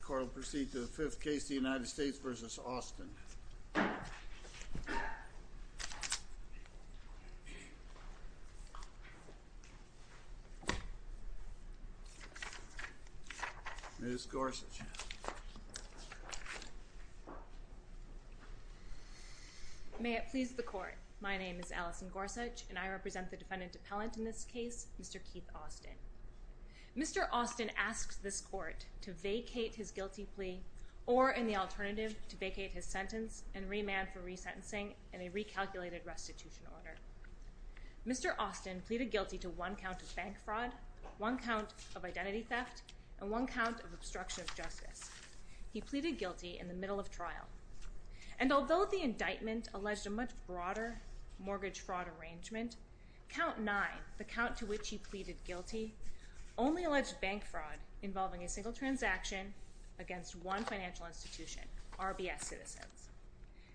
The court will proceed to the fifth case, the United States v. Austin. Ms. Gorsuch. May it please the court, my name is Allison Gorsuch and I represent the defendant appellant in this case, Mr. Keith Austin. Mr. Austin asked this court to vacate his guilty plea, or in the alternative, to vacate his sentence and remand for resentencing in a recalculated restitution order. Mr. Austin pleaded guilty to one count of bank fraud, one count of identity theft, and one count of obstruction of justice. He pleaded guilty in the middle of trial. And although the indictment alleged a much broader mortgage fraud arrangement, count nine, the count to which he pleaded guilty, only alleged bank fraud involving a single transaction against one financial institution, RBS Citizens.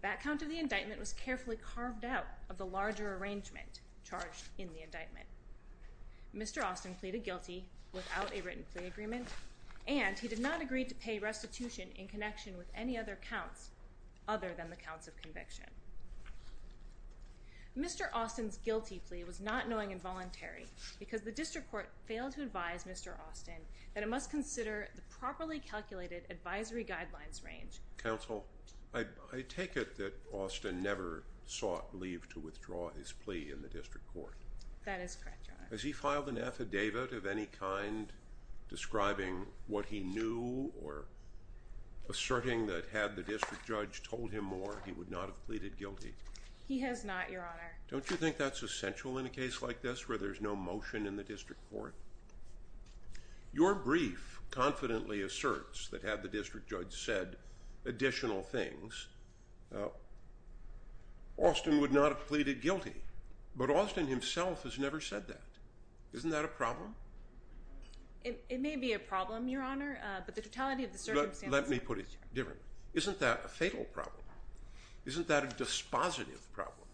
That count of the indictment was carefully carved out of the larger arrangement charged in the indictment. Mr. Austin pleaded guilty without a written plea agreement, and he did not agree to pay restitution in connection with any other counts other than the counts of conviction. Mr. Austin's guilty plea was not knowing and voluntary because the district court failed to advise Mr. Austin that it must consider the properly calculated advisory guidelines range. Counsel, I take it that Austin never sought leave to withdraw his plea in the district court. That is correct, Your Honor. Has he filed an affidavit of any kind describing what he knew or asserting that had the district judge told him more, he would not have pleaded guilty? He has not, Your Honor. Don't you think that's essential in a case like this where there's no motion in the district court? Your brief confidently asserts that had the district judge said additional things, Austin would not have pleaded guilty. But Austin himself has never said that. Isn't that a problem? It may be a problem, Your Honor, but the totality of the circumstances… Let me put it differently. Isn't that a fatal problem? Isn't that a dispositive problem?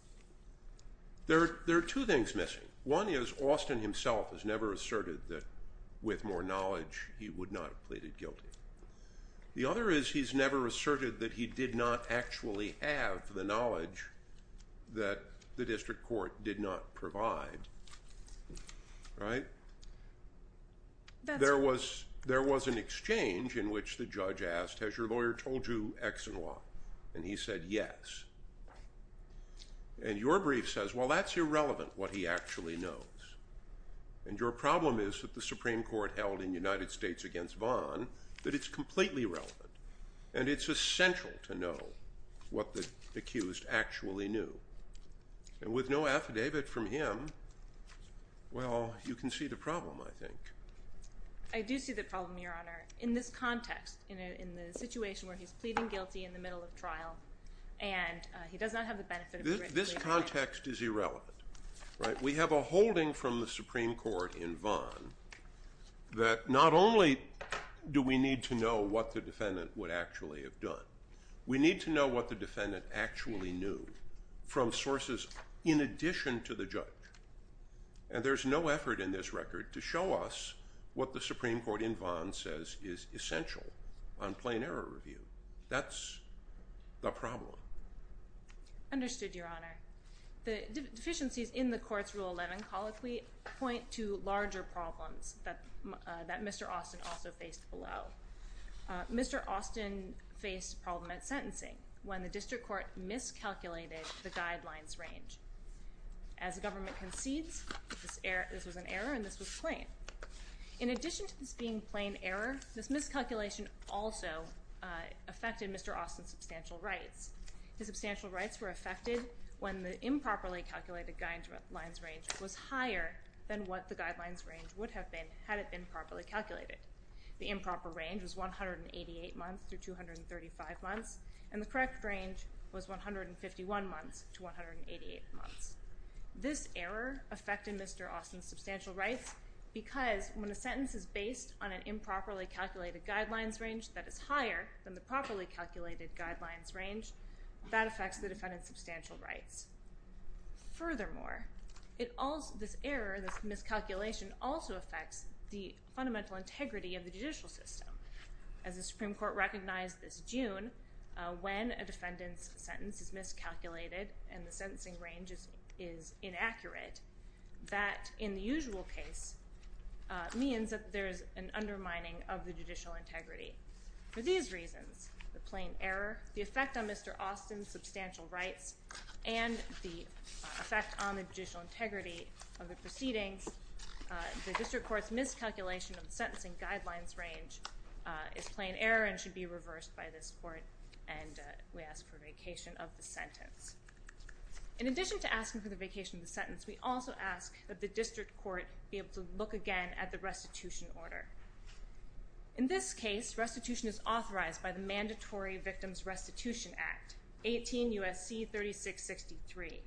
There are two things missing. One is Austin himself has never asserted that with more knowledge, he would not have pleaded guilty. The other is he's never asserted that he did not actually have the knowledge that the district court did not provide. Right? There was an exchange in which the judge asked, has your lawyer told you X and Y? And he said yes. And your brief says, well, that's irrelevant, what he actually knows. And your problem is that the Supreme Court held in United States against Vaughn that it's completely irrelevant. And it's essential to know what the accused actually knew. And with no affidavit from him, well, you can see the problem, I think. I do see the problem, Your Honor, in this context, in the situation where he's pleading guilty in the middle of trial, and he does not have the benefit of a written plea. This context is irrelevant. Right? We have a holding from the Supreme Court in Vaughn that not only do we need to know what the defendant would actually have done, we need to know what the defendant actually knew from sources in addition to the judge. And there's no effort in this record to show us what the Supreme Court in Vaughn says is essential on plain error review. That's the problem. Understood, Your Honor. The deficiencies in the court's Rule 11 colloquy point to larger problems that Mr. Austin also faced below. Mr. Austin faced a problem at sentencing when the district court miscalculated the guidelines range. As the government concedes, this was an error and this was plain. In addition to this being plain error, this miscalculation also affected Mr. Austin's substantial rights. His substantial rights were affected when the improperly calculated guidelines range was higher than what the guidelines range would have been had it been properly calculated. The improper range was 188 months through 235 months, and the correct range was 151 months to 188 months. This error affected Mr. Austin's substantial rights because when a sentence is based on an improperly calculated guidelines range that is higher than the properly calculated guidelines range, that affects the defendant's substantial rights. Furthermore, this error, this miscalculation, also affects the fundamental integrity of the judicial system. As the Supreme Court recognized this June, when a defendant's sentence is miscalculated and the sentencing range is inaccurate, that, in the usual case, means that there is an undermining of the judicial integrity. For these reasons, the plain error, the effect on Mr. Austin's substantial rights, and the effect on the judicial integrity of the proceedings, the district court's miscalculation of the sentencing guidelines range is plain error and should be reversed by this court, and we ask for a vacation of the sentence. In addition to asking for the vacation of the sentence, we also ask that the district court be able to look again at the restitution order. In this case, restitution is authorized by the Mandatory Victims Restitution Act, 18 U.S.C. 3663.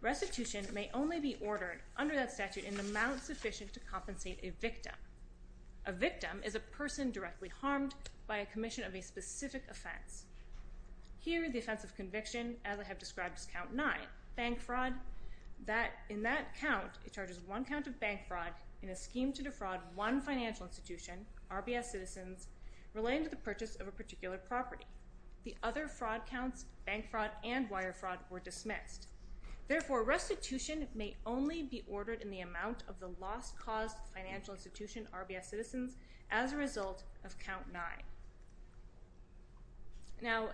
Restitution may only be ordered under that statute in an amount sufficient to compensate a victim. A victim is a person directly harmed by a commission of a specific offense. Here, the offense of conviction, as I have described as Count 9, bank fraud, in that count, it charges one count of bank fraud in a scheme to defraud one financial institution, RBS Citizens, relating to the purchase of a particular property. The other fraud counts, bank fraud and wire fraud, were dismissed. Therefore, restitution may only be ordered in the amount of the lost cause to the financial institution, RBS Citizens, as a result of Count 9. Now,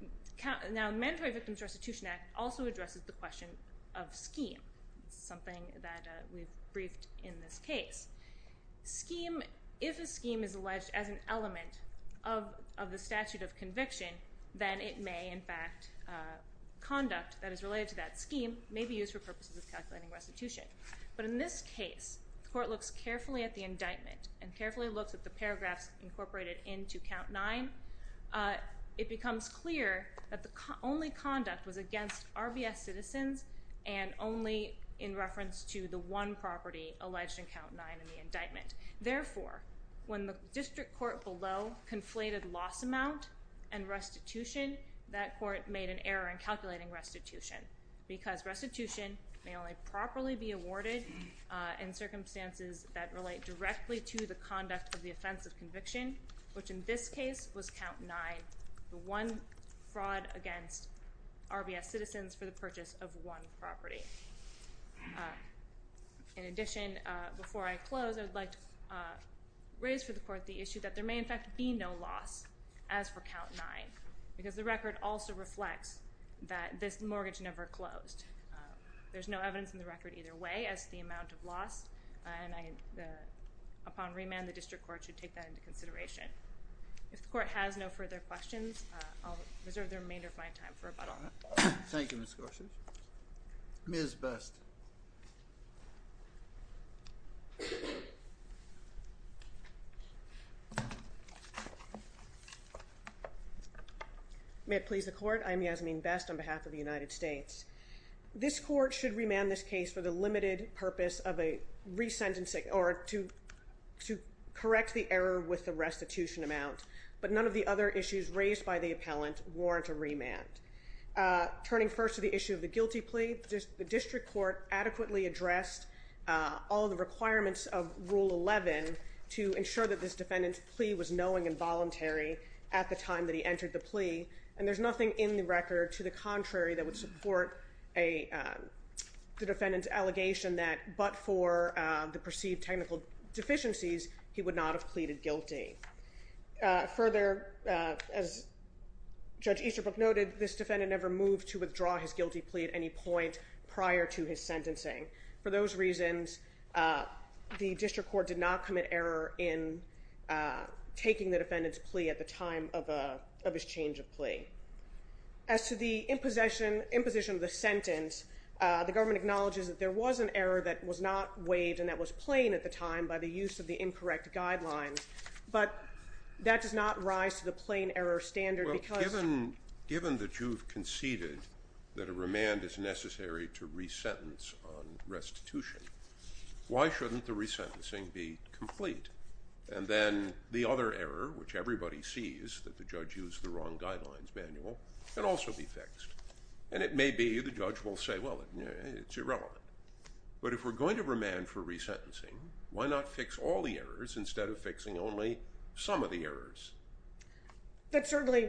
the Mandatory Victims Restitution Act also addresses the question of scheme, something that we've briefed in this case. Scheme, if a scheme is alleged as an element of the statute of conviction, then it may, in fact, conduct that is related to that scheme may be used for purposes of calculating restitution. But in this case, the court looks carefully at the indictment and carefully looks at the paragraphs incorporated into Count 9. It becomes clear that the only conduct was against RBS Citizens and only in reference to the one property alleged in Count 9 in the indictment. Therefore, when the district court below conflated loss amount and restitution, that court made an error in calculating restitution because restitution may only properly be awarded in circumstances that relate directly to the conduct of the offense of conviction, which in this case was Count 9, the one fraud against RBS Citizens for the purchase of one property. In addition, before I close, I'd like to raise for the court the issue that there may, in fact, be no loss as for Count 9 because the record also reflects that this mortgage never closed. There's no evidence in the record either way as to the amount of loss, and upon remand, the district court should take that into consideration. If the court has no further questions, I'll reserve the remainder of my time for rebuttal. Thank you, Ms. Gorsuch. Ms. Best. May it please the court. I am Yasmeen Best on behalf of the United States. This court should remand this case for the limited purpose of a resentencing or to correct the error with the restitution amount, but none of the other issues raised by the appellant warrant a remand. Turning first to the issue of the guilty plea, the district court adequately addressed all the requirements of Rule 11 to ensure that this defendant's plea was knowing and voluntary at the time that he entered the plea, and there's nothing in the record to the contrary that would support the defendant's allegation that but for the perceived technical deficiencies, he would not have pleaded guilty. Further, as Judge Easterbrook noted, this defendant never moved to withdraw his guilty plea at any point prior to his sentencing. For those reasons, the district court did not commit error in taking the defendant's plea at the time of his change of plea. As to the imposition of the sentence, the government acknowledges that there was an error that was not waived and that was plain at the time by the use of the incorrect guidelines, but that does not rise to the plain error standard because Given that you've conceded that a remand is necessary to re-sentence on restitution, why shouldn't the re-sentencing be complete? And then the other error, which everybody sees, that the judge used the wrong guidelines manual, can also be fixed. And it may be the judge will say, well, it's irrelevant. But if we're going to remand for re-sentencing, why not fix all the errors instead of fixing only some of the errors? That certainly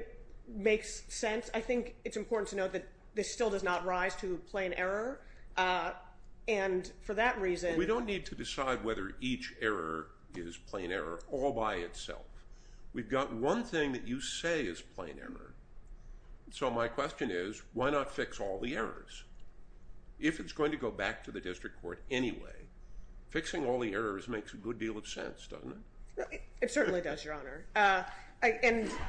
makes sense. I think it's important to note that this still does not rise to plain error, and for that reason We don't need to decide whether each error is plain error all by itself. We've got one thing that you say is plain error. So my question is, why not fix all the errors? If it's going to go back to the district court anyway, fixing all the errors makes a good deal of sense, doesn't it? It certainly does, Your Honor.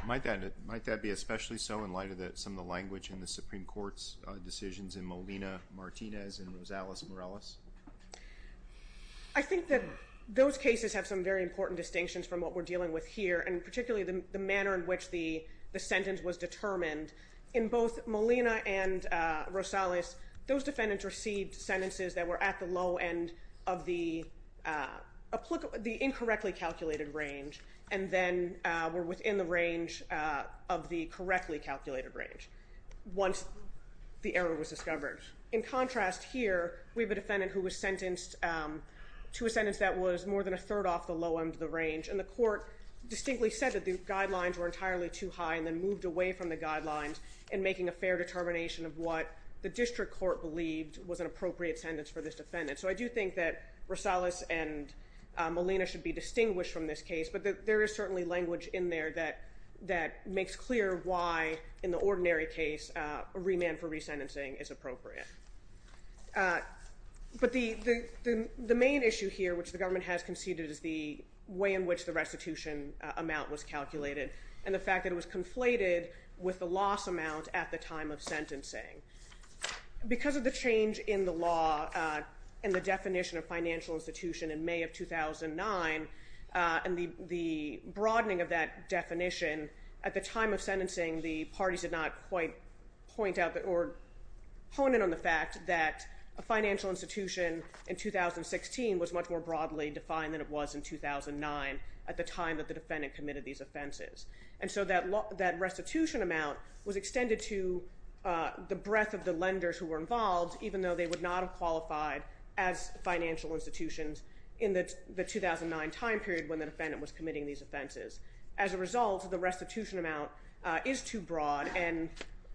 Might that be especially so in light of some of the language in the Supreme Court's decisions in Molina-Martinez and Rosales-Morales? I think that those cases have some very important distinctions from what we're dealing with here, and particularly the manner in which the sentence was determined. In both Molina and Rosales, those defendants received sentences that were at the low end of the incorrectly calculated range and then were within the range of the correctly calculated range once the error was discovered. In contrast here, we have a defendant who was sentenced to a sentence that was more than a third off the low end of the range, and the court distinctly said that the guidelines were entirely too high and then moved away from the guidelines in making a fair determination of what the district court believed was an appropriate sentence for this defendant. So I do think that Rosales and Molina should be distinguished from this case, but there is certainly language in there that makes clear why in the ordinary case a remand for resentencing is appropriate. But the main issue here, which the government has conceded, is the way in which the restitution amount was calculated and the fact that it was conflated with the loss amount at the time of sentencing. Because of the change in the law and the definition of financial institution in May of 2009 and the broadening of that definition, at the time of sentencing the parties did not quite point out or hone in on the fact that a financial institution in 2016 was much more broadly defined than it was in 2009 at the time that the defendant committed these offenses. And so that restitution amount was extended to the breadth of the lenders who were involved, even though they would not have qualified as financial institutions in the 2009 time period when the defendant was committing these offenses. As a result, the restitution amount is too broad, and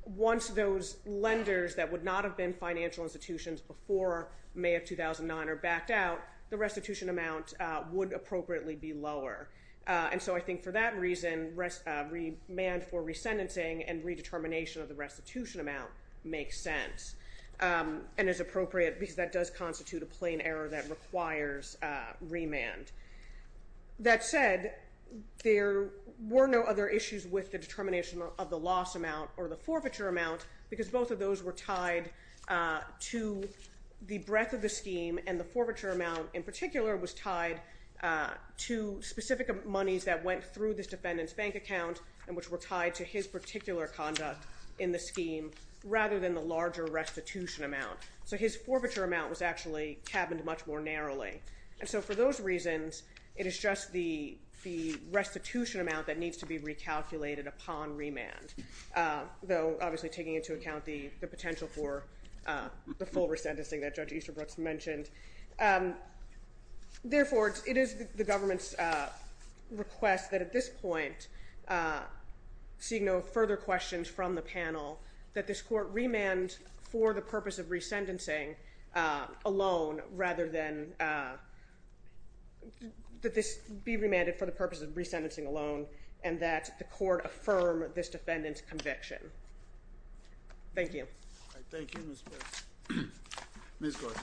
once those lenders that would not have been financial institutions before May of 2009 are backed out, the restitution amount would appropriately be lower. And so I think for that reason, remand for resentencing and redetermination of the restitution amount makes sense and is appropriate because that does constitute a plain error that requires remand. That said, there were no other issues with the determination of the loss amount or the forfeiture amount because both of those were tied to the breadth of the scheme and the forfeiture amount in particular was tied to specific monies that went through this defendant's bank account and which were tied to his particular conduct in the scheme rather than the larger restitution amount. So his forfeiture amount was actually cabined much more narrowly. And so for those reasons, it is just the restitution amount that needs to be recalculated upon remand, though obviously taking into account the potential for the full resentencing that Judge Easterbrook mentioned. Therefore, it is the government's request that at this point, seeing no further questions from the panel, that this court remand for the purpose of resentencing alone rather than that this be remanded for the purpose of resentencing alone and that the court affirm this defendant's conviction. Thank you. Thank you, Ms. Gorsuch. Ms. Gorsuch.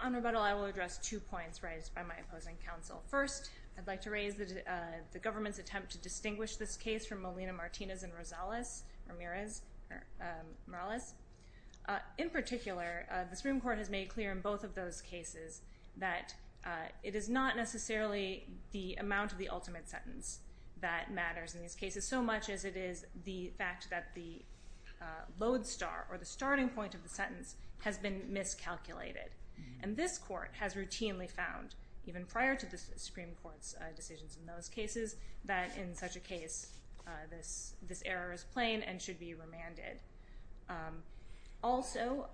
On rebuttal, I will address two points raised by my opposing counsel. First, I'd like to raise the government's attempt to distinguish this case from Molina-Martinez and Morales. In particular, the Supreme Court has made clear in both of those cases that it is not necessarily the amount of the ultimate sentence that matters in these cases so much as it is the fact that the load star or the starting point of the sentence has been miscalculated. And this court has routinely found, even prior to the Supreme Court's decisions in those cases, that in such a case this error is plain and should be remanded. Also,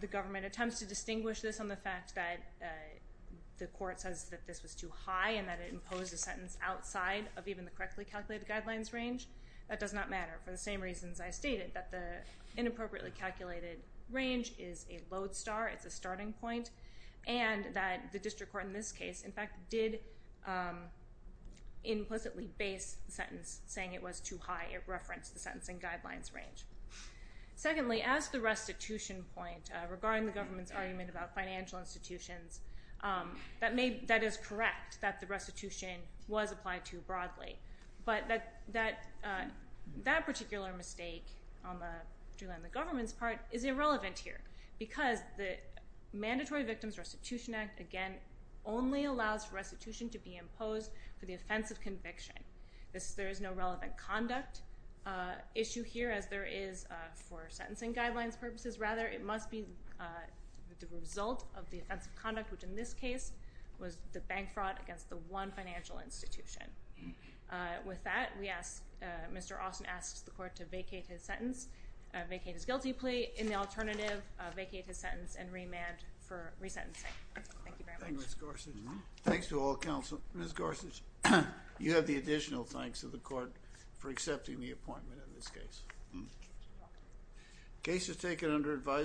the government attempts to distinguish this on the fact that the court says that this was too high and that it imposed a sentence outside of even the correctly calculated guidelines range. That does not matter for the same reasons I stated, that the inappropriately calculated range is a load star. It's a starting point. And that the district court in this case, in fact, did implicitly base the sentence saying it was too high. It referenced the sentencing guidelines range. Secondly, as the restitution point regarding the government's argument about financial institutions, that is correct that the restitution was applied to broadly. But that particular mistake on the government's part is irrelevant here because the Mandatory Victims Restitution Act, again, only allows restitution to be imposed for the offense of conviction. There is no relevant conduct issue here, as there is for sentencing guidelines purposes, rather. It must be the result of the offense of conduct, which in this case was the bank fraud against the one financial institution. With that, we ask, Mr. Austin asks the court to vacate his sentence, vacate his guilty plea. In the alternative, vacate his sentence and remand for resentencing. Thank you very much. Thank you, Ms. Gorsuch. Thanks to all counsel. Ms. Gorsuch, you have the additional thanks of the court for accepting the appointment in this case. You're welcome. The case is taken under advisement.